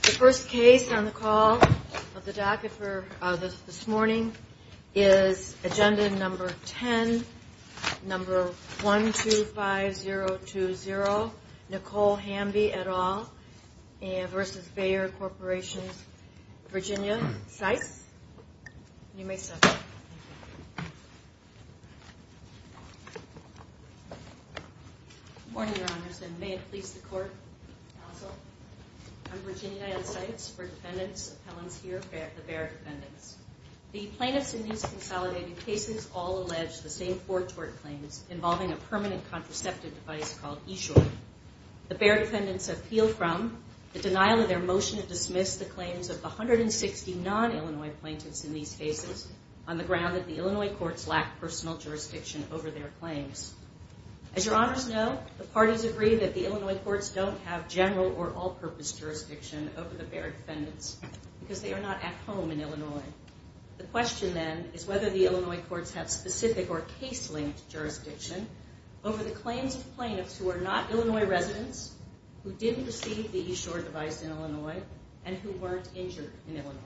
The first case on the call of the docket for this morning is agenda number 10, number 125020, Nicole Hamby et al. v. Bayer Corporation, Virginia, Sykes. Good morning, your honors, and may it please the court, counsel. I'm Virginia N. Sykes for defendants' appellants here, the Bayer defendants. The plaintiffs in these consolidated cases all allege the same four tort claims involving a permanent contraceptive device called e-short. The Bayer defendants appeal from the denial of their motion to dismiss the claims of 160 non-Illinois plaintiffs in these cases on the ground that the Illinois courts lack personal jurisdiction over their claims. As your honors know, the parties agree that the Illinois courts don't have general or all-purpose jurisdiction over the Bayer defendants because they are not at home in Illinois. The question then is whether the Illinois courts have specific or case-linked jurisdiction over the claims of plaintiffs who are not Illinois residents, who didn't receive the e-short device in Illinois, and who weren't injured in Illinois.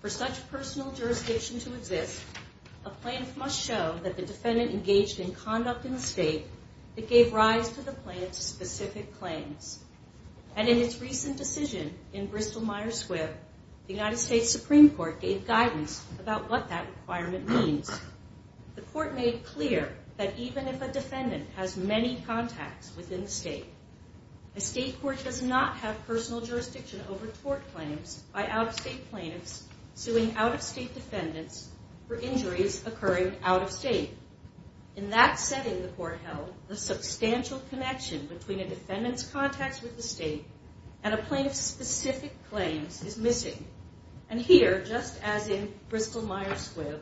For such personal jurisdiction to exist, a plaintiff must show that the defendant engaged in conduct in the state that gave rise to the plaintiff's specific claims. And in its recent decision in Bristol-Myers Squibb, the United States Supreme Court gave guidance about what that requirement means. The court made clear that even if a defendant has many contacts within the state, a state court does not have personal jurisdiction over tort claims by out-of-state plaintiffs suing out-of-state defendants for injuries occurring out-of-state. In that setting, the court held, the substantial connection between a defendant's contacts with the state and a plaintiff's specific claims is missing. And here, just as in Bristol-Myers Squibb,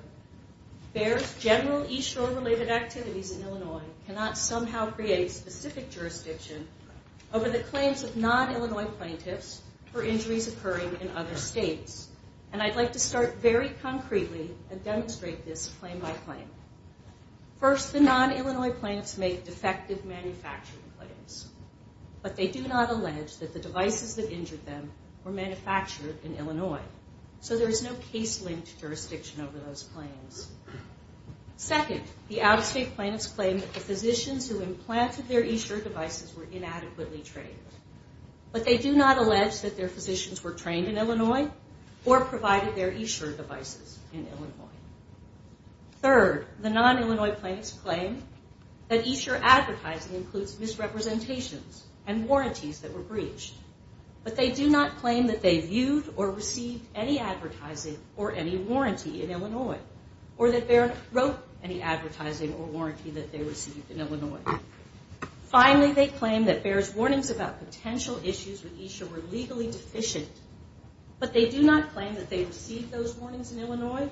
Bayer's general e-short related activities in Illinois cannot somehow create specific jurisdiction over the claims of non-Illinois plaintiffs for injuries occurring in other states. And I'd like to start very concretely and demonstrate this claim by claim. First, the non-Illinois plaintiffs make defective manufacturing claims. But they do not allege that the devices that injured them were manufactured in Illinois. So there is no case-linked jurisdiction over those claims. Second, the out-of-state plaintiffs claim that the physicians who implanted their e-short devices were inadequately trained. But they do not allege that their physicians were trained in Illinois or provided their e-short devices in Illinois. Third, the non-Illinois plaintiffs claim that e-short advertising includes misrepresentations and warranties that were breached. But they do not claim that they viewed or received any advertising or any warranty in Illinois. Or that Bayer wrote any advertising or warranty that they received in Illinois. Finally, they claim that Bayer's warnings about potential issues with e-short were legally deficient. But they do not claim that they received those warnings in Illinois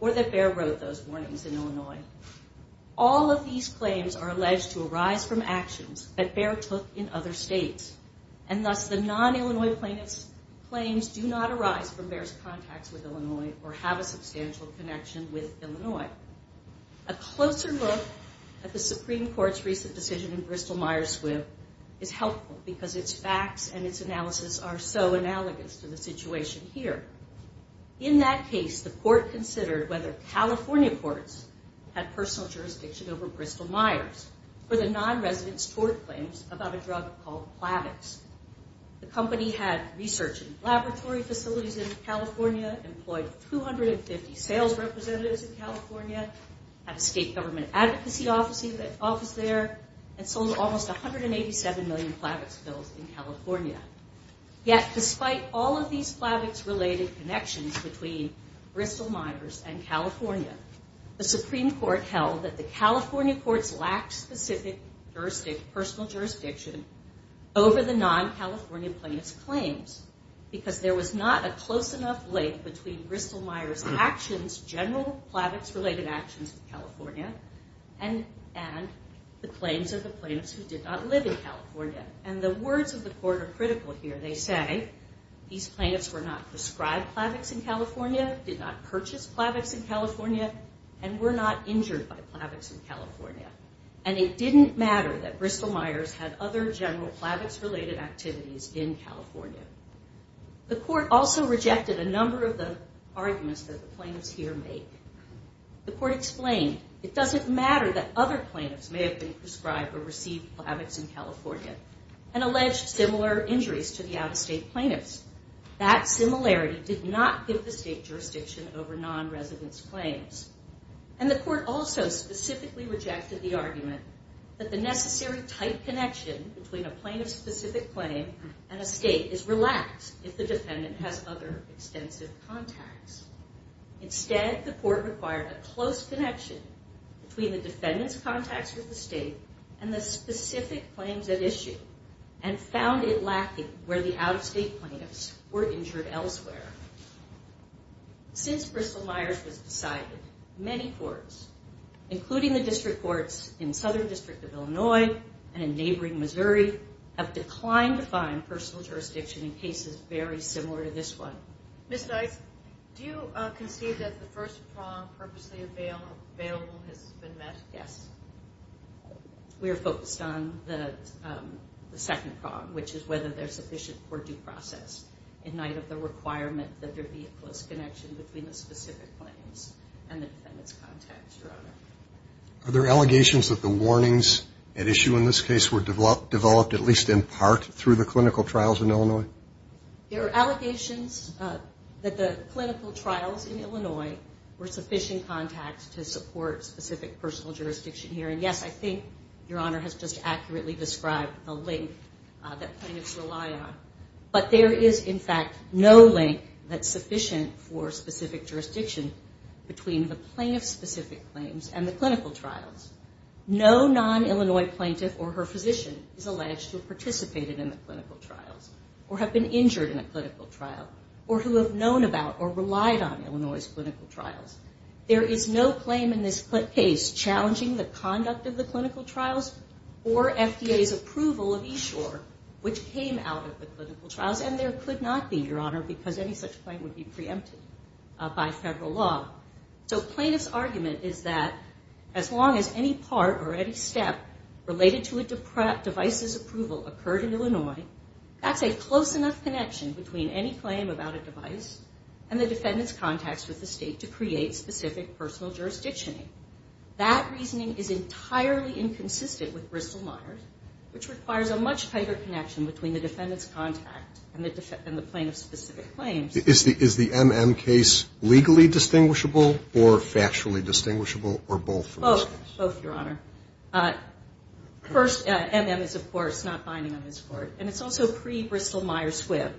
or that Bayer wrote those warnings in Illinois. All of these claims are alleged to arise from actions that Bayer took in other states. And thus the non-Illinois plaintiffs' claims do not arise from Bayer's contacts with Illinois or have a substantial connection with Illinois. A closer look at the Supreme Court's recent decision in Bristol-Myers Squibb is helpful because its facts and its analysis are so analogous to the situation here. In that case, the court considered whether California courts had personal jurisdiction over Bristol-Myers or the non-residents' tort claims about a drug called Plavix. The company had research and laboratory facilities in California, employed 250 sales representatives in California, had a state government advocacy office there, and sold almost 187 million Plavix pills in California. Yet despite all of these Plavix-related connections between Bristol-Myers and California, the Supreme Court held that the California courts lacked specific personal jurisdiction over the non-California plaintiffs' claims because there was not a close enough link between Bristol-Myers' actions, general Plavix-related actions in California, and the claims of the plaintiffs who did not live in California. And the words of the court are critical here. They say these plaintiffs were not prescribed Plavix in California, did not purchase Plavix in California, and were not injured by Plavix in California. And it didn't matter that Bristol-Myers had other general Plavix-related activities in California. The court also rejected a number of the arguments that the plaintiffs here make. The court explained it doesn't matter that other plaintiffs may have been prescribed or received Plavix in California and alleged similar injuries to the out-of-state plaintiffs. That similarity did not give the state jurisdiction over non-residents' claims. And the court also specifically rejected the argument that the necessary tight connection between a plaintiff-specific claim and a state is relaxed if the defendant has other extensive contacts. Instead, the court required a close connection between the defendant's contacts with the state and the specific claims at issue, and found it lacking where the out-of-state plaintiffs were injured elsewhere. Since Bristol-Myers was decided, many courts, including the district courts in Southern District of Illinois and in neighboring Missouri, have declined to find personal jurisdiction in cases very similar to this one. Ms. Dice, do you concede that the first prong, purposely available, has been met? Yes. We are focused on the second prong, which is whether they're sufficient for due process in light of the requirement that there be a close connection between the specific claims and the defendant's contacts, Your Honor. Are there allegations that the warnings at issue in this case were developed at least in part through the clinical trials in Illinois? There are allegations that the clinical trials in Illinois were sufficient contacts to support specific personal jurisdiction here. And yes, I think Your Honor has just accurately described the link that plaintiffs rely on. But there is, in fact, no link that's sufficient for specific jurisdiction between the plaintiff-specific claims and the clinical trials. No non-Illinois plaintiff or her physician is alleged to have participated in the clinical trials or have been injured in a clinical trial or who have known about or relied on Illinois's clinical trials. There is no claim in this case challenging the conduct of the clinical trials or FDA's approval of Eshore, which came out of the clinical trials. And there could not be, Your Honor, because any such claim would be preempted by federal law. So plaintiff's argument is that as long as any part or any step related to a device's approval occurred in Illinois, that's a close enough connection between any claim about a device and the defendant's contacts with the state to create specific personal jurisdiction. That reasoning is entirely inconsistent with Bristol-Myers, which requires a much tighter connection between the defendant's contact and the plaintiff-specific claims. Is the MM case legally distinguishable or factually distinguishable or both for this case? Both, Your Honor. First, MM is, of course, not binding on this Court. And it's also pre-Bristol-Myers-Swipp.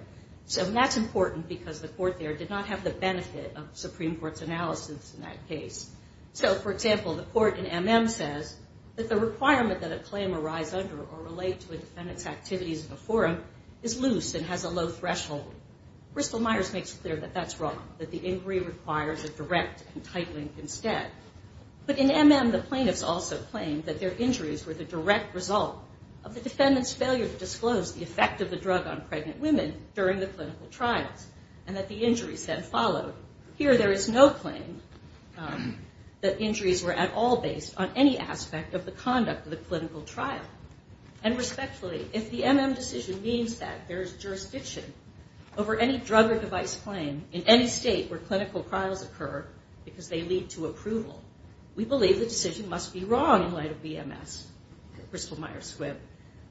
So that's important because the Court there did not have the benefit of Supreme Court's analysis in that case. So, for example, the Court in MM says that the requirement that a claim arise under or relate to a defendant's activities in a forum is loose and has a low threshold. Bristol-Myers makes clear that that's wrong, that the inquiry requires a direct and tight link instead. But in MM, the plaintiffs also claim that their injuries were the direct result of the defendant's failure to disclose the effect of the drug on pregnant women during the clinical trials and that the injuries then followed. Here, there is no claim that injuries were at all based on any aspect of the conduct of the clinical trial. And respectfully, if the MM decision means that there is jurisdiction over any drug or device claim in any state where clinical trials occur because they lead to approval, we believe the decision must be wrong in light of BMS, Bristol-Myers-Swipp.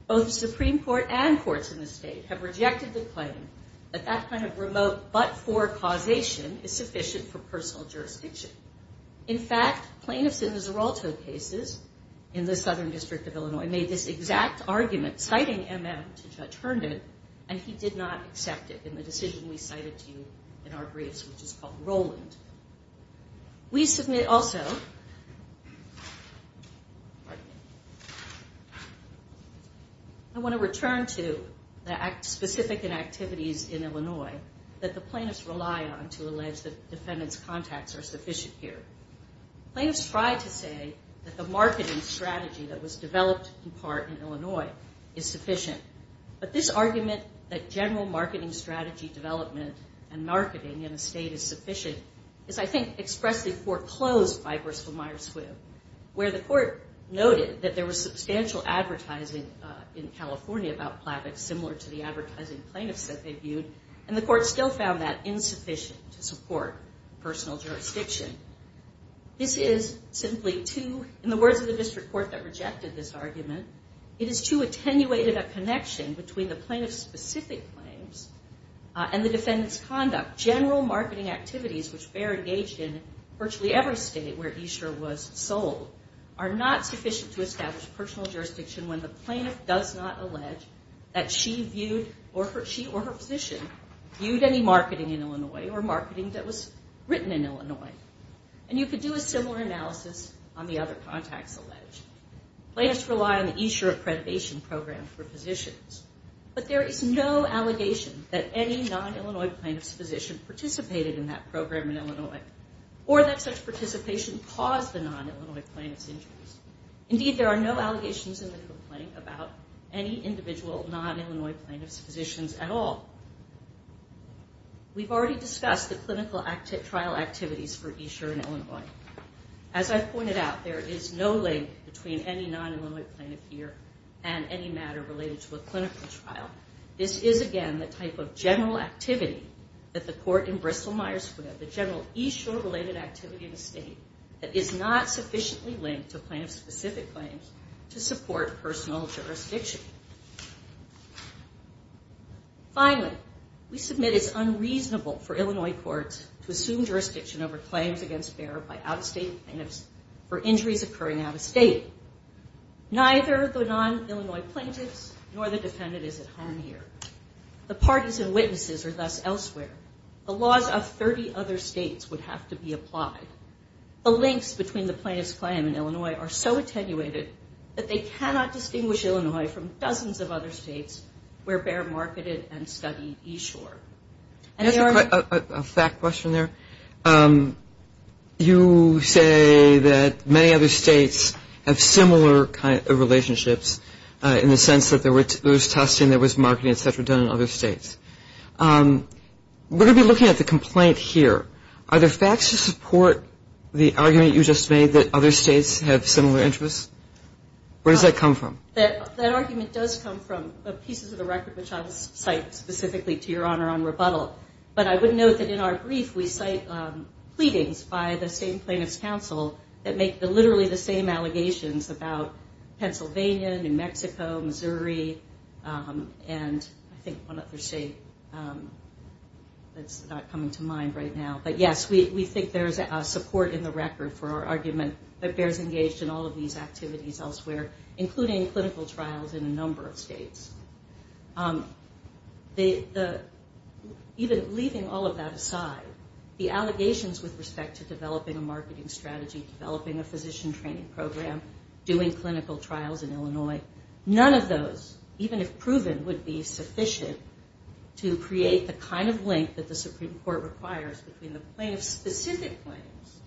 Both the Supreme Court and courts in the state have rejected the claim that that kind of remote but-for causation is sufficient for personal jurisdiction. In fact, plaintiffs in the Zeralto cases in the Southern District of Illinois made this exact argument, citing MM to Judge Herndon, and he did not accept it in the decision we cited to you in our briefs, which is called Roland. We submit also, I want to return to the specific inactivities in Illinois that the plaintiffs rely on to allege that defendant's contacts are sufficient here. Plaintiffs try to say that the marketing strategy that was developed in part in Illinois is sufficient, but this argument that general marketing strategy development and marketing in a state is sufficient is, I think, expressly foreclosed by Bristol-Myers-Swipp, where the court noted that there was substantial advertising in California about Plavix, similar to the advertising plaintiffs said they viewed, and the court still found that insufficient to support personal jurisdiction. This is simply too, in the words of the district court that rejected this argument, it is too attenuated a connection between the plaintiff's specific claims and the defendant's conduct. General marketing activities, which bear engaged in virtually every state where Esher was sold, are not sufficient to establish personal jurisdiction when the plaintiff does not allege that she or her physician viewed any marketing in Illinois or marketing that was written in Illinois. And you could do a similar analysis on the other contacts alleged. Plaintiffs rely on the Esher accreditation program for positions, but there is no allegation that any non-Illinois plaintiff's physician participated in that program in Illinois or that such participation caused the non-Illinois plaintiff's injuries. Indeed, there are no allegations in the complaint about any individual non-Illinois plaintiff's physicians at all. We've already discussed the clinical trial activities for Esher in Illinois. As I've pointed out, there is no link between any non-Illinois plaintiff here and any matter related to a clinical trial. This is, again, the type of general activity that the court in Bristol-Myers-Swipp, the general Esher-related activity in the state, that is not sufficiently linked to plaintiff-specific claims to support personal jurisdiction. Finally, we submit it's unreasonable for Illinois courts to assume jurisdiction over claims against Behr by out-of-state plaintiffs for injuries occurring out-of-state. Neither the non-Illinois plaintiffs nor the defendant is at harm here. The parties and witnesses are thus elsewhere. The laws of 30 other states would have to be applied. The links between the plaintiff's claim in Illinois are so attenuated that they cannot distinguish Illinois from dozens of other states where Behr marketed and studied Esher. That's a fact question there. You say that many other states have similar kind of relationships in the sense that there was testing, there was marketing, et cetera, done in other states. We're going to be looking at the complaint here. Are there facts to support the argument you just made that other states have similar interests? Where does that come from? That argument does come from pieces of the record which I will cite specifically to Your Honor on rebuttal. But I would note that in our brief we cite pleadings by the same plaintiff's counsel that make literally the same allegations about Pennsylvania, New Mexico, Missouri, and I think one other state that's not coming to mind right now. But, yes, we think there's support in the record for our argument that Behr's engaged in all of these activities elsewhere, including clinical trials in a number of states. Even leaving all of that aside, the allegations with respect to developing a marketing strategy, developing a physician training program, doing clinical trials in Illinois, none of those, even if proven, would be sufficient to create the kind of link that the Supreme Court requires between the plaintiff's specific claims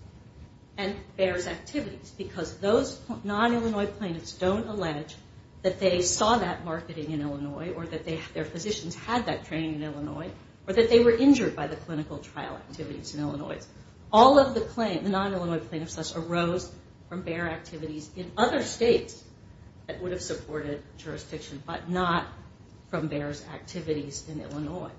and Behr's activities because those non-Illinois plaintiffs don't allege that they saw that marketing in Illinois or that their physicians had that training in Illinois or that they were injured by the clinical trial activities in Illinois. All of the non-Illinois plaintiffs' claims arose from Behr activities in other states that would have supported jurisdiction but not from Behr's activities in Illinois.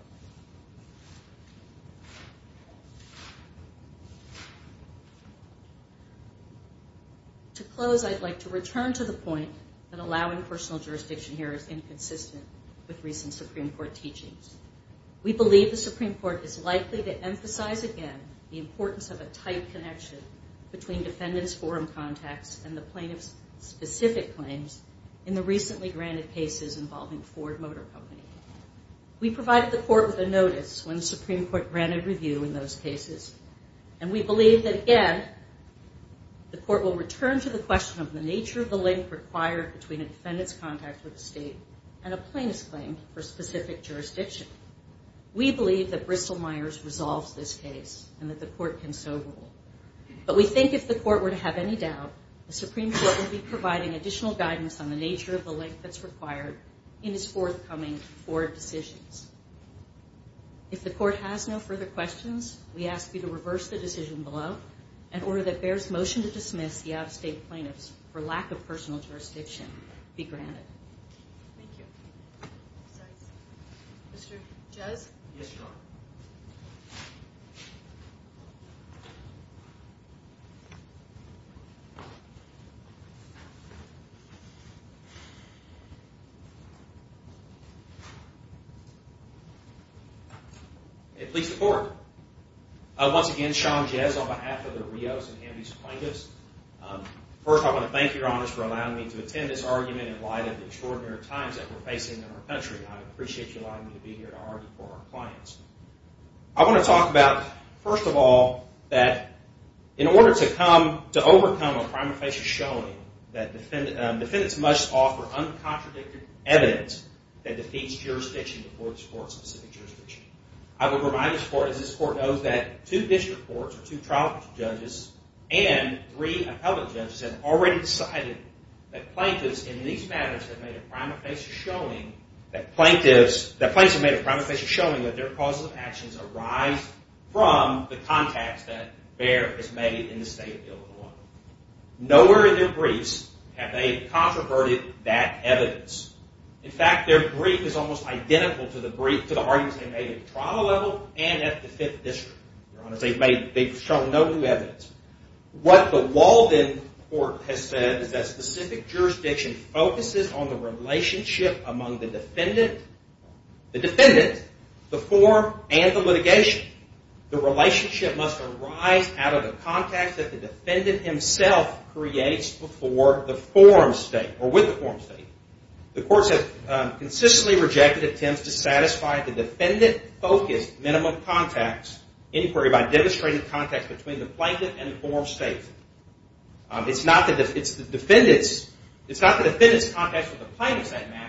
To close, I'd like to return to the point that allowing personal jurisdiction here is inconsistent with recent Supreme Court teachings. We believe the Supreme Court is likely to emphasize again the importance of a tight connection between defendants' forum contacts and the plaintiff's specific claims in the recently granted cases involving Ford Motor Company. We provided the Court with a notice when the Supreme Court granted review in those cases, and we believe that, again, the Court will return to the question of the nature of the link required between a defendant's contact with the state and a plaintiff's claim for specific jurisdiction. We believe that Bristol-Myers resolves this case and that the Court can so rule. But we think if the Court were to have any doubt, the Supreme Court would be providing additional guidance on the nature of the link that's required in its forthcoming Ford decisions. If the Court has no further questions, we ask you to reverse the decision below and order that Behr's motion to dismiss the out-of-state plaintiffs for lack of personal jurisdiction be granted. Thank you. Mr. Jez? Yes, Your Honor. May it please the Court. Once again, Sean Jez on behalf of the Rios and Hamby's plaintiffs. First, I want to thank you, Your Honor, for allowing me to attend this argument in light of the extraordinary times that we're facing in our country. I appreciate you allowing me to be here to argue for our clients. I want to talk about, first of all, that in order to overcome a crime of facial showing that defendants must offer uncontradicted evidence that defeats jurisdiction before this Court's specific jurisdiction. I would remind this Court, as this Court knows, that two district courts, two trial judges, and three appellate judges have already decided that plaintiffs, in these matters, have made a crime of facial showing that their causes of actions arise from the contacts that Behr has made in the state of Illinois. Nowhere in their briefs have they controverted that evidence. In fact, their brief is almost identical to the brief, to the arguments they made at the trial level and at the fifth district. They've shown no new evidence. What the Walden Court has said is that specific jurisdiction focuses on the relationship among the defendant, the form, and the litigation. The relationship must arise out of the contacts that the defendant himself creates before the forum state or with the forum state. The courts have consistently rejected attempts to satisfy the defendant-focused minimum contacts inquiry by demonstrating contacts between the plaintiff and the forum state. It's not the defendant's contacts with the plaintiff's that matter.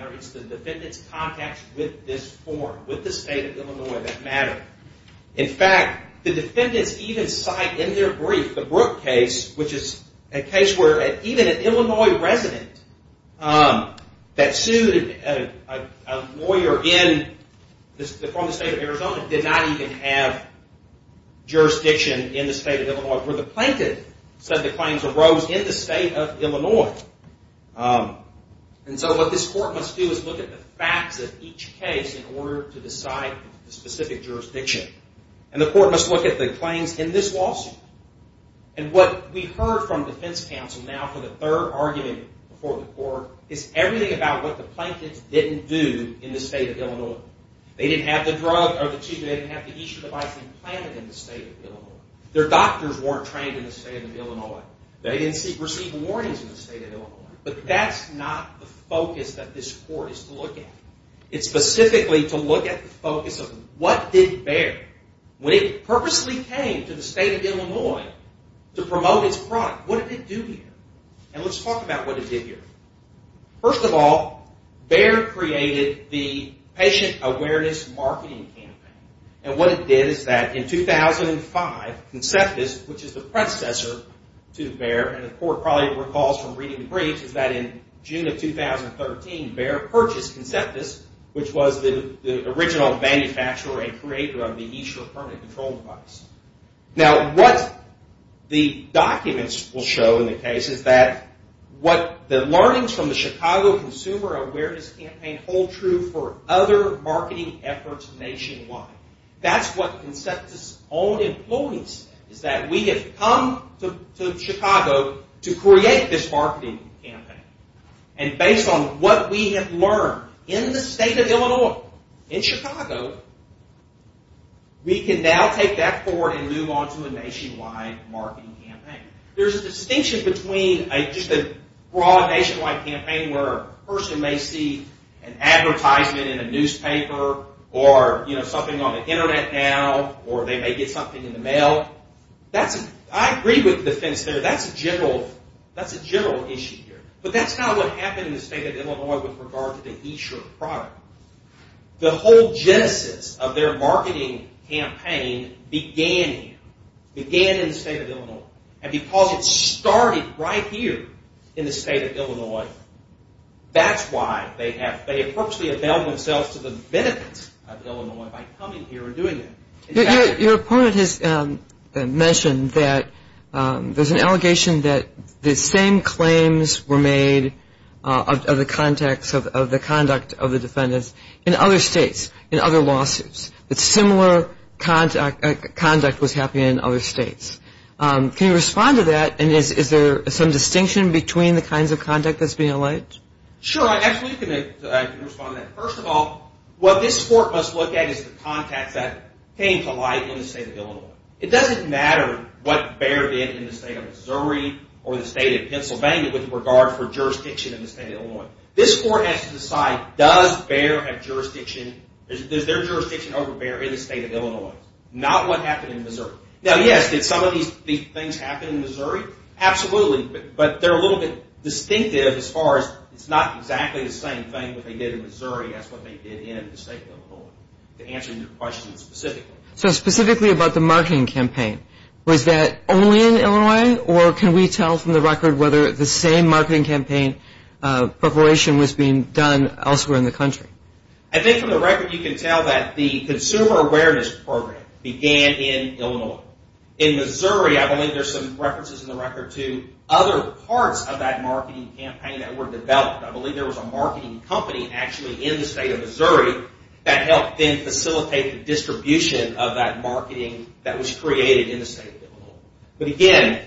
In fact, the defendants even cite in their brief the Brooke case, which is a case where even an Illinois resident that sued a lawyer from the state of Arizona did not even have jurisdiction in the state of Illinois, where the plaintiff said the claims arose in the state of Illinois. And so what this court must do is look at the facts of each case in order to decide the specific jurisdiction. And the court must look at the claims in this lawsuit. And what we heard from the defense counsel now for the third argument before the court is everything about what the plaintiffs didn't do in the state of Illinois. They didn't have the drug or the extra device implanted in the state of Illinois. Their doctors weren't trained in the state of Illinois. They didn't receive warnings in the state of Illinois. But that's not the focus that this court is to look at. It's specifically to look at the focus of what did Baird, when it purposely came to the state of Illinois to promote its product, what did it do here? And let's talk about what it did here. First of all, Baird created the patient awareness marketing campaign. And what it did is that in 2005, Conceptus, which is the predecessor to Baird, and the court probably recalls from reading the briefs, that in June of 2013, Baird purchased Conceptus, which was the original manufacturer and creator of the E-Shirt permanent control device. Now, what the documents will show in the case is that what the learnings from the Chicago Consumer Awareness Campaign hold true for other marketing efforts nationwide. That's what Conceptus' own employees, is that we have come to Chicago to create this marketing campaign. And based on what we have learned in the state of Illinois, in Chicago, we can now take that forward and move on to a nationwide marketing campaign. There's a distinction between just a broad nationwide campaign where a person may see an advertisement in a newspaper, or something on the internet now, or they may get something in the mail. I agree with the defense there. That's a general issue here. But that's not what happened in the state of Illinois with regard to the E-Shirt product. The whole genesis of their marketing campaign began here, began in the state of Illinois. And because it started right here in the state of Illinois, that's why they have purposely availed themselves to the benefit of Illinois by coming here and doing that. Your opponent has mentioned that there's an allegation that the same claims were made of the conduct of the defendants in other states, in other lawsuits, that similar conduct was happening in other states. Can you respond to that? And is there some distinction between the kinds of conduct that's being alleged? Sure, I absolutely can respond to that. First of all, what this court must look at is the context that came to light in the state of Illinois. It doesn't matter what Bayer did in the state of Missouri or the state of Pennsylvania with regard for jurisdiction in the state of Illinois. This court has to decide, does their jurisdiction over Bayer in the state of Illinois? Not what happened in Missouri. Now, yes, did some of these things happen in Missouri? Absolutely, but they're a little bit distinctive as far as it's not exactly the same thing that they did in Missouri as what they did in the state of Illinois, to answer your question specifically. So specifically about the marketing campaign, was that only in Illinois, or can we tell from the record whether the same marketing campaign preparation was being done elsewhere in the country? I think from the record you can tell that the consumer awareness program began in Illinois. In Missouri, I believe there's some references in the record to other parts of that marketing campaign that were developed. I believe there was a marketing company actually in the state of Missouri that helped then facilitate the distribution of that marketing that was created in the state of Illinois. But again,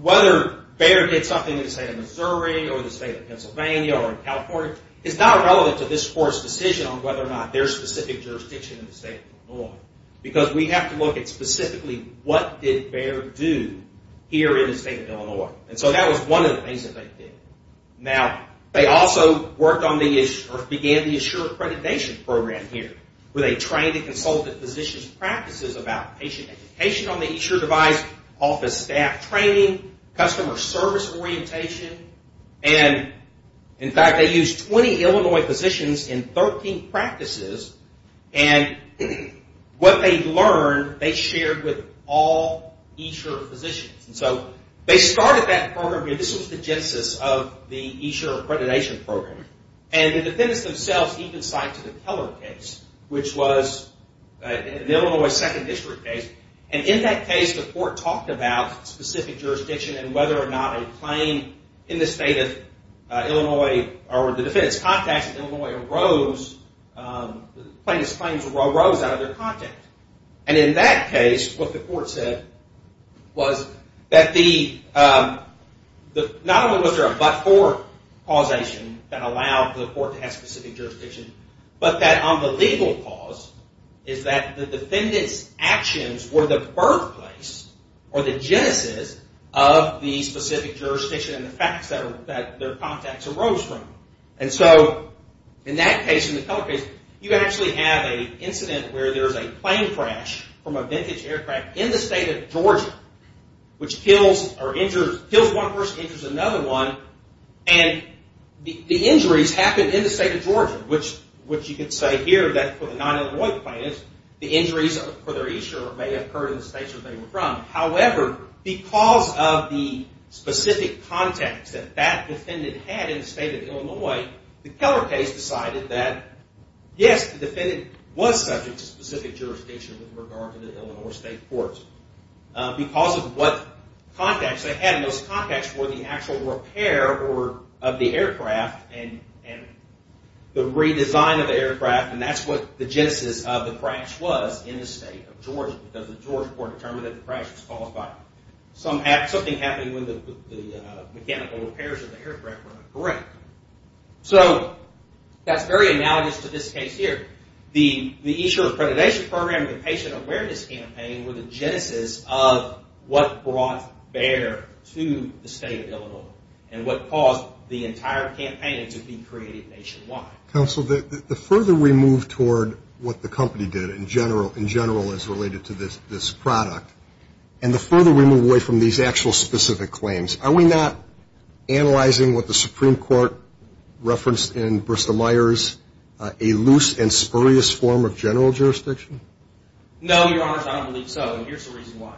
whether Bayer did something in the state of Missouri or the state of Pennsylvania or in California is not relevant to this court's decision on whether or not there's specific jurisdiction in the state of Illinois because we have to look at specifically what did Bayer do here in the state of Illinois. And so that was one of the things that they did. Now, they also worked on or began the Assured Accreditation Program here where they trained and consulted physicians' practices about patient education on the eSure device, office staff training, customer service orientation, and in fact they used 20 Illinois physicians in 13 practices, and what they learned they shared with all eSure physicians. And so they started that program here. This was the genesis of the eSure Accreditation Program. And the defendants themselves even signed to the Keller case, which was the Illinois Second District case. And in that case, the court talked about specific jurisdiction and whether or not a claim in the state of Illinois or the defendants' contacts in Illinois arose, plaintiff's claims arose out of their contact. And in that case, what the court said was that not only was there a but-for causation that allowed the court to have specific jurisdiction, but that on the legal cause is that the defendants' actions were the birthplace or the genesis of the specific jurisdiction and the facts that their contacts arose from. And so in that case, in the Keller case, you actually have an incident where there's a plane crash from a vintage aircraft in the state of Georgia, which kills one person, injures another one, and the injuries happened in the state of Georgia, which you could say here that for the non-Illinois plaintiffs, the injuries for their eSure may have occurred in the state where they were from. However, because of the specific contacts that that defendant had in the state of Illinois, the Keller case decided that, yes, the defendant was subject to specific jurisdiction with regard to the Illinois state courts because of what contacts they had, and those contacts were the actual repair of the aircraft and the redesign of the aircraft, and that's what the genesis of the crash was in the state of Georgia because the Georgia court determined that the crash was caused by something happening when the mechanical repairs of the aircraft were incorrect. So that's very analogous to this case here. The eSure accreditation program and the patient awareness campaign were the genesis of what brought BEHR to the state of Illinois and what caused the entire campaign to be created nationwide. Counsel, the further we move toward what the company did in general as related to this product and the further we move away from these actual specific claims, are we not analyzing what the Supreme Court referenced in Bristol-Myers, a loose and spurious form of general jurisdiction? No, Your Honors, I don't believe so, and here's the reason why.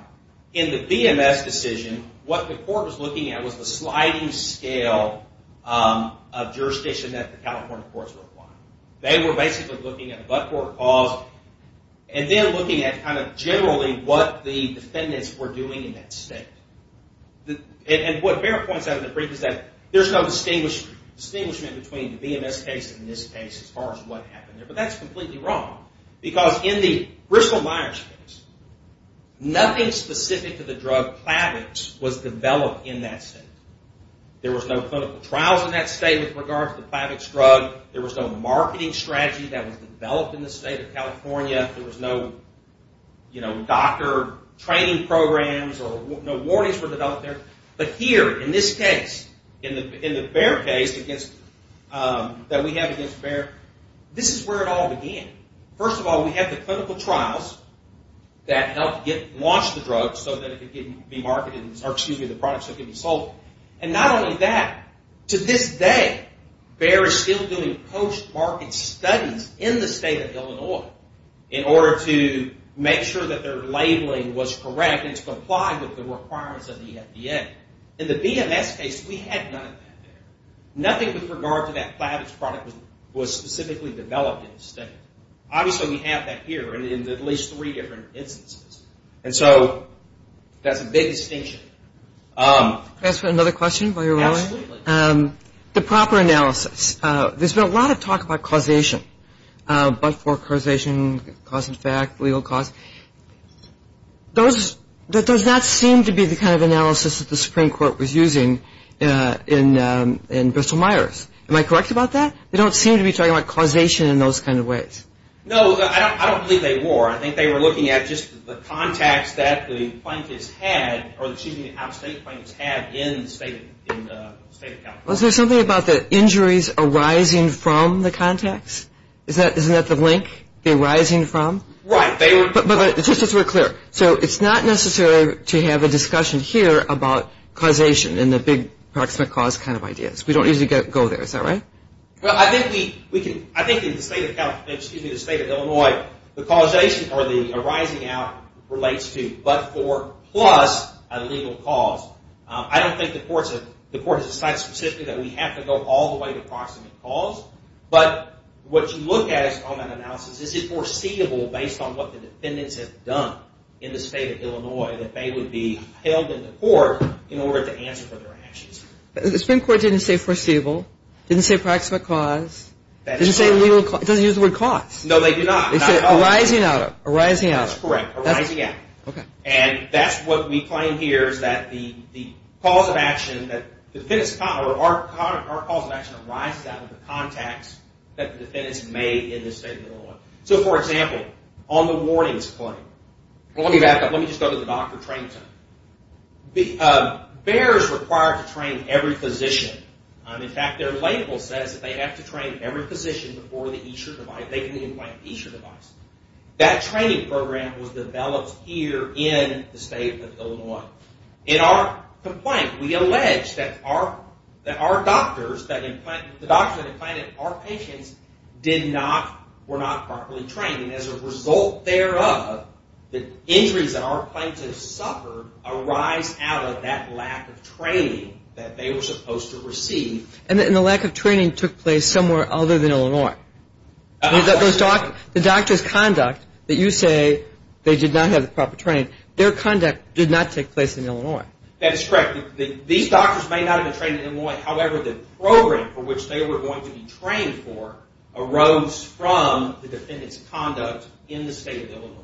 In the BMS decision, what the court was looking at was the sliding scale of jurisdiction that the California courts were applying. They were basically looking at what court caused and then looking at kind of generally what the defendants were doing in that state. And what BEHR points out in the brief is that there's no distinguishment between the BMS case and this case as far as what happened there, but that's completely wrong because in the Bristol-Myers case, nothing specific to the drug Plavix was developed in that state. There was no clinical trials in that state with regard to the Plavix drug. There was no marketing strategy that was developed in the state of California. There was no doctor training programs or no warnings were developed there. But here in this case, in the BEHR case that we have against BEHR, this is where it all began. First of all, we have the clinical trials that helped launch the drug so that it could be marketed, or excuse me, the products that could be sold. And not only that, to this day, BEHR is still doing post-market studies in the state of Illinois in order to make sure that their labeling was correct and to comply with the requirements of the FDA. In the BMS case, we had none of that there. Nothing with regard to that Plavix product was specifically developed in the state. Obviously, we have that here in at least three different instances. And so that's a big distinction. Can I ask another question while you're rolling? Absolutely. The proper analysis. There's been a lot of talk about causation, but for causation, cause and effect, legal cause. That does not seem to be the kind of analysis that the Supreme Court was using in Bristol-Myers. Am I correct about that? They don't seem to be talking about causation in those kind of ways. No, I don't believe they were. I think they were looking at just the contacts that the plaintiffs had or excuse me, out-of-state plaintiffs had in the state of California. Was there something about the injuries arising from the contacts? Isn't that the link? The arising from? Right. But just to be clear, so it's not necessary to have a discussion here about causation and the big proximate cause kind of ideas. We don't usually go there. Is that right? Well, I think in the state of California, excuse me, the state of Illinois, the causation or the arising out relates to but for plus a legal cause. I don't think the court has decided specifically that we have to go all the way to proximate cause, but what you look at on that analysis, is it foreseeable based on what the defendants have done in the state of Illinois that they would be held in the court in order to answer for their actions? The Supreme Court didn't say foreseeable, didn't say proximate cause, didn't say legal cause. It doesn't use the word cause. No, they do not. They say arising out of, arising out of. That's correct, arising out. Okay. And that's what we claim here is that the cause of action that the defendants or our cause of action arises out of the contacts that the defendants made in the state of Illinois. So, for example, on the warnings claim, let me just go to the doctor training center. BEHR is required to train every physician. In fact, their label says that they have to train every physician before they can implant each device. That training program was developed here in the state of Illinois. In our complaint, we allege that our doctors, that the doctors that implanted our patients did not, were not properly trained. As a result thereof, the injuries that our plaintiffs suffered arise out of that lack of training that they were supposed to receive. And the lack of training took place somewhere other than Illinois. The doctor's conduct that you say they did not have the proper training, their conduct did not take place in Illinois. That's correct. These doctors may not have been trained in Illinois. However, the program for which they were going to be trained for arose from the defendants' conduct in the state of Illinois.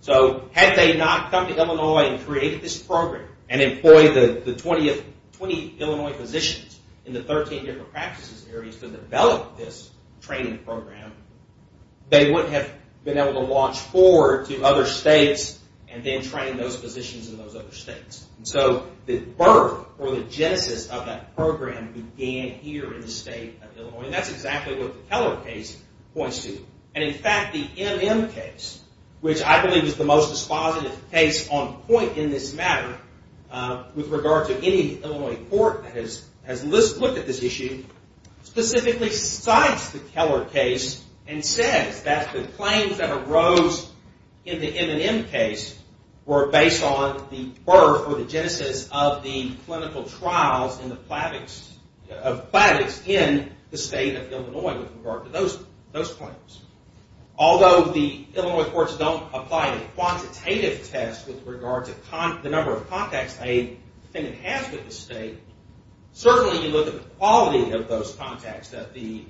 So had they not come to Illinois and created this program and employed the 20 Illinois physicians in the 13 different practices areas to develop this training program, they wouldn't have been able to launch forward to other states and then train those physicians in those other states. So the birth or the genesis of that program began here in the state of Illinois. And that's exactly what the Keller case points to. And in fact, the MN case, which I believe is the most dispositive case on point in this matter with regard to any Illinois court that has looked at this issue, specifically cites the Keller case and says that the claims that arose in the MN case were based on the birth or the genesis of the clinical trials of Plavix in the state of Illinois with regard to those claims. Although the Illinois courts don't apply a quantitative test with regard to the number of contacts a defendant has with the state, certainly you look at the quality of those contacts that the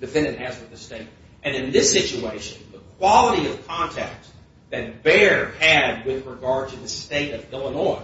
defendant has with the state. And in this situation, the quality of contacts that Bayer had with regard to the state of Illinois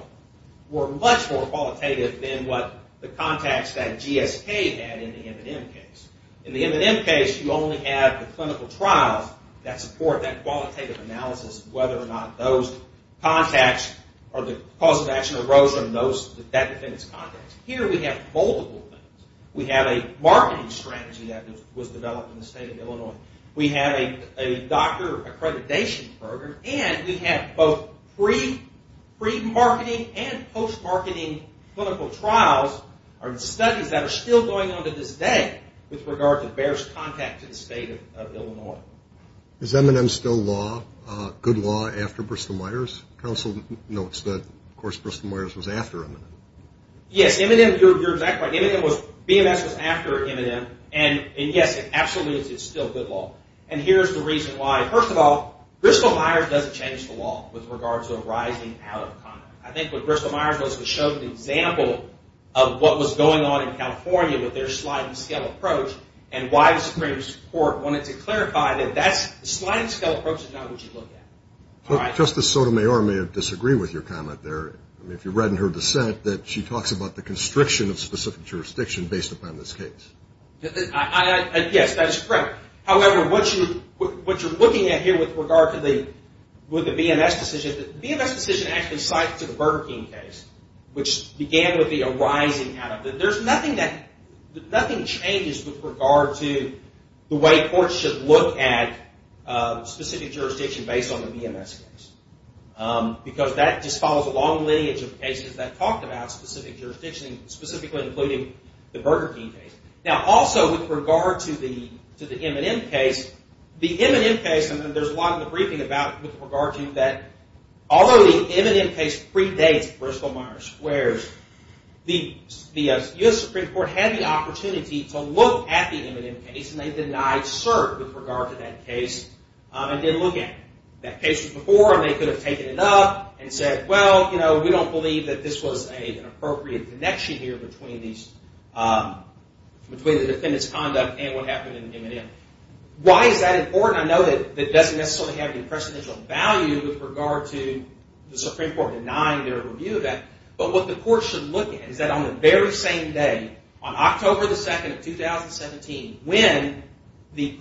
were much more qualitative than what the contacts that GSK had in the MN case. In the MN case, you only have the clinical trials that support that qualitative analysis of whether or not those contacts or the cause of action arose from that defendant's contacts. Here we have multiple things. We have a marketing strategy that was developed in the state of Illinois. We have a doctor accreditation program. And we have both pre-marketing and post-marketing clinical trials or studies that are still going on to this day with regard to Bayer's contact to the state of Illinois. Is M&M still good law after Bristol-Meyers? Counsel notes that, of course, Bristol-Meyers was after M&M. Yes, M&M, you're exactly right. M&M was, BMS was after M&M. And, yes, absolutely it's still good law. And here's the reason why. First of all, Bristol-Meyers doesn't change the law with regards to arising out of contact. I think what Bristol-Meyers was to show the example of what was going on in California with their sliding scale approach and why the Supreme Court wanted to clarify that that sliding scale approach is not what you look at. Justice Sotomayor may disagree with your comment there. I mean, if you read in her dissent that she talks about the constriction of specific jurisdiction based upon this case. Yes, that is correct. However, what you're looking at here with regard to the BMS decision, the BMS decision actually slides to the Burger King case, which began with the arising out of it. There's nothing that, nothing changes with regard to the way courts should look at specific jurisdiction based on the BMS case. Because that just follows a long lineage of cases that talked about specific jurisdiction, specifically including the Burger King case. Now, also with regard to the M&M case, the M&M case, and there's a lot in the briefing about with regard to that, although the M&M case predates Bristol-Meyers, where the U.S. Supreme Court had the opportunity to look at the M&M case and they denied cert with regard to that case and didn't look at it. That case was before and they could have taken it up and said, well, you know, we don't believe that this was an appropriate connection here between these, between the defendant's conduct and what happened in the M&M. Why is that important? I know that it doesn't necessarily have any precedential value with regard to the Supreme Court denying their review of that. But what the court should look at is that on the very same day, on October 2nd of 2017, when the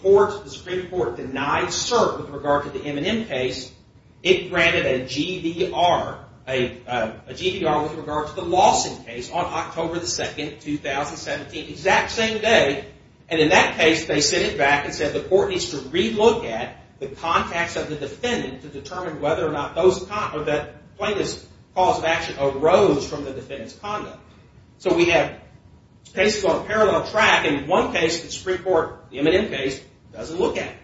Supreme Court denied cert with regard to the M&M case, it granted a GDR with regard to the Lawson case on October 2nd, 2017, exact same day. And in that case, they sent it back and said the court needs to relook at the contacts of the defendant to determine whether or not that plaintiff's cause of action arose from the defendant's conduct. So we have cases on a parallel track. In one case, the Supreme Court, the M&M case, doesn't look at it.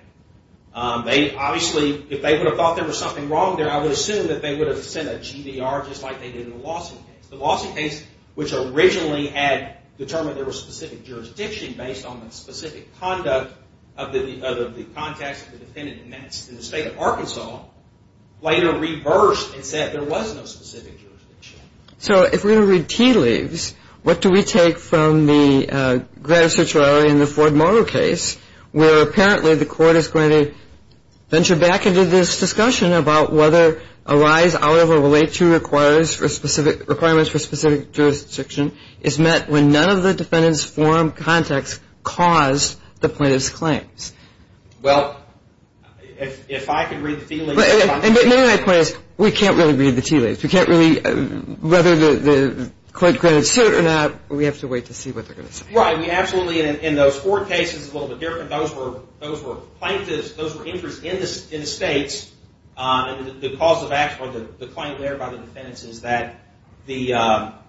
They obviously, if they would have thought there was something wrong there, I would assume that they would have sent a GDR just like they did in the Lawson case. The Lawson case, which originally had determined there was specific jurisdiction based on the specific conduct of the contacts of the defendant, and that's in the state of Arkansas, later reversed and said there was no specific jurisdiction. So if we're going to read tea leaves, what do we take from the granted certiorari in the Ford-Moto case, where apparently the court is going to venture back into this discussion about whether a rise out of or relate to requirements for specific jurisdiction is met when none of the defendant's forum contacts caused the plaintiff's claims? Well, if I could read the tea leaves... We can't really read the tea leaves. We can't really, whether the court granted cert or not, we have to wait to see what they're going to say. Right. Absolutely, in those Ford cases, it's a little bit different. Those were plaintiffs, those were injuries in the states. The cause of action, the claim there by the defendants is that the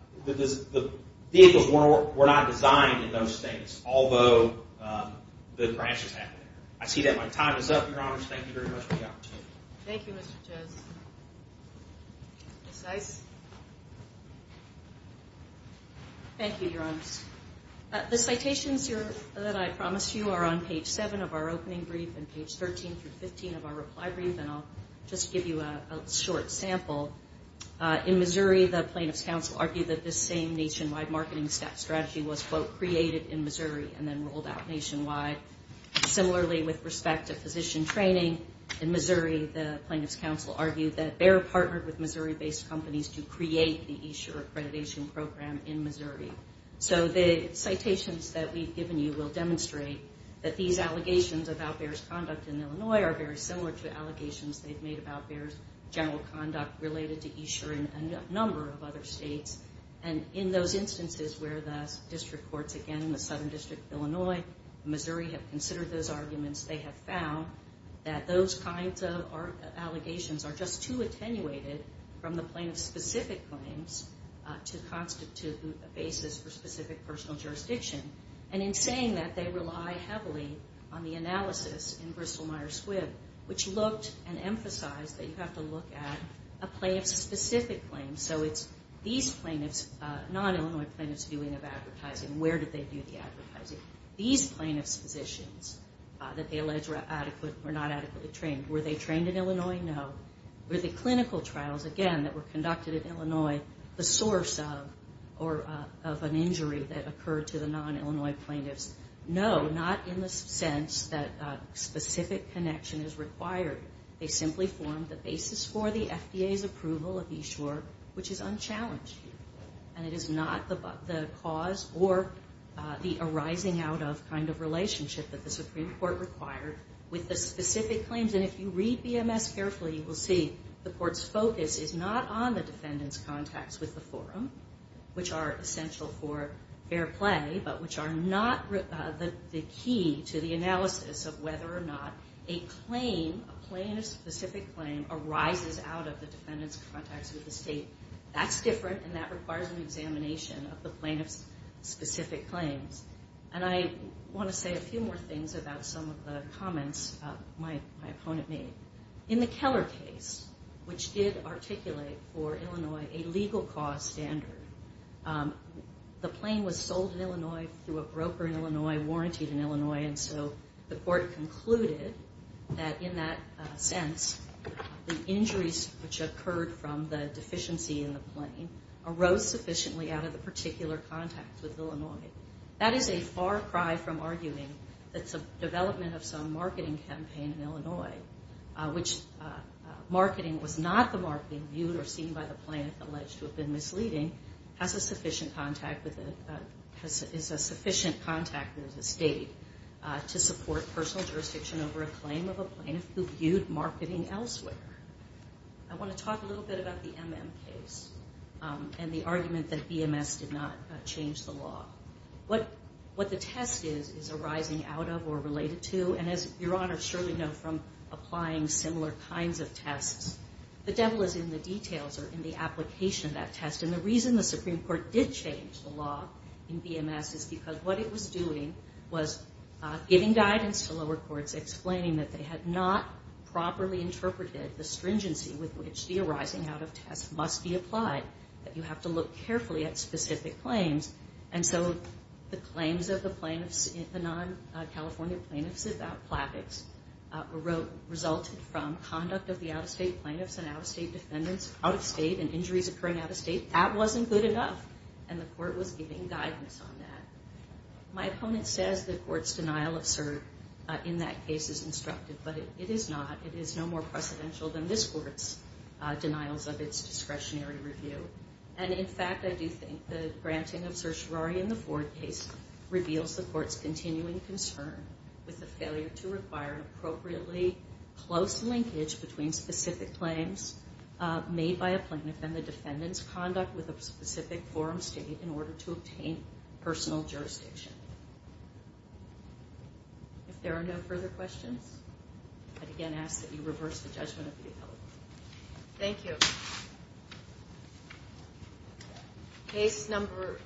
vehicles were not designed in those states, although the crash is happening. I see that my time is up, Your Honors. Thank you very much for the opportunity. Thank you, Mr. Chess. Ms. Ice? Thank you, Your Honors. The citations that I promised you are on page 7 of our opening brief and page 13 through 15 of our reply brief, and I'll just give you a short sample. In Missouri, the Plaintiff's Counsel argued that this same nationwide marketing strategy was, quote, created in Missouri and then rolled out nationwide. Similarly, with respect to physician training in Missouri, the Plaintiff's Counsel argued that Bayer partnered with Missouri-based companies to create the eSure accreditation program in Missouri. So the citations that we've given you will demonstrate that these allegations about Bayer's conduct in Illinois are very similar to allegations they've made about Bayer's general conduct related to eSure in a number of other states. And in those instances where the district courts, again, the Southern District of Illinois and Missouri have considered those arguments, they have found that those kinds of allegations are just too attenuated from the plaintiff's specific claims to constitute a basis for specific personal jurisdiction. And in saying that, they rely heavily on the analysis in Bristol-Myers-Squibb, which looked and emphasized that you have to look at a plaintiff's specific claims. So it's these non-Illinois plaintiffs' viewing of advertising. Where did they do the advertising? These plaintiff's physicians that they allege were not adequately trained, were they trained in Illinois? No. Were the clinical trials, again, that were conducted in Illinois, the source of an injury that occurred to the non-Illinois plaintiffs? No. Not in the sense that specific connection is required. They simply formed the basis for the FDA's approval of eSure, which is unchallenged. And it is not the cause or the arising out of kind of relationship that the Supreme Court required with the specific claims. And if you read BMS carefully, you will see the court's focus is not on the defendant's contacts with the forum, which are essential for fair play, but which are not the key to the analysis of whether or not a claim, a plaintiff's specific claim, arises out of the defendant's contacts with the state. That's different, and that requires an examination of the plaintiff's specific claims. And I want to say a few more things about some of the comments my opponent made. In the Keller case, which did articulate for Illinois a legal cause standard, the plane was sold in Illinois through a broker in Illinois, warrantied in Illinois, and so the court concluded that in that sense, the injuries which occurred from the deficiency in the plane arose sufficiently out of the particular contacts with Illinois. That is a far cry from arguing that some development of some marketing campaign in Illinois, which marketing was not the marketing viewed or seen by the plaintiff alleged to have been misleading, has a sufficient contact with the state to support personal jurisdiction over a claim of a plaintiff who viewed marketing elsewhere. I want to talk a little bit about the MM case and the argument that BMS did not change the law. What the test is, is arising out of or related to, and as Your Honor surely knows from applying similar kinds of tests, the devil is in the details or in the application of that test. And the reason the Supreme Court did change the law in BMS is because what it was doing was giving guidance to lower courts explaining that they had not properly interpreted the stringency with which the arising out of test must be applied, that you have to look carefully at specific claims, and so the claims of the plaintiffs, the non-California plaintiffs about plastics resulted from conduct of the out-of-state plaintiffs and out-of-state defendants, out-of-state and injuries occurring out-of-state. That wasn't good enough, and the court was giving guidance on that. My opponent says the court's denial of cert in that case is instructive, but it is not. It is no more precedential than this court's denials of its discretionary review. And in fact, I do think the granting of certiorari in the Ford case reveals the court's continuing concern with the failure to require appropriately close linkage between specific claims made by a plaintiff and the defendant's conduct with a specific forum state in order to obtain personal jurisdiction. If there are no further questions, I'd again ask that you reverse the judgment of the appellate. Thank you. Case number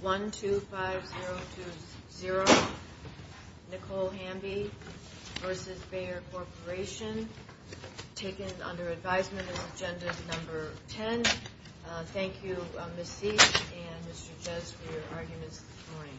125020, Nicole Hamby v. Bayer Corporation, taken under advisement as Agenda Number 10. Thank you, Ms. Sieck and Mr. Jez, for your arguments this morning.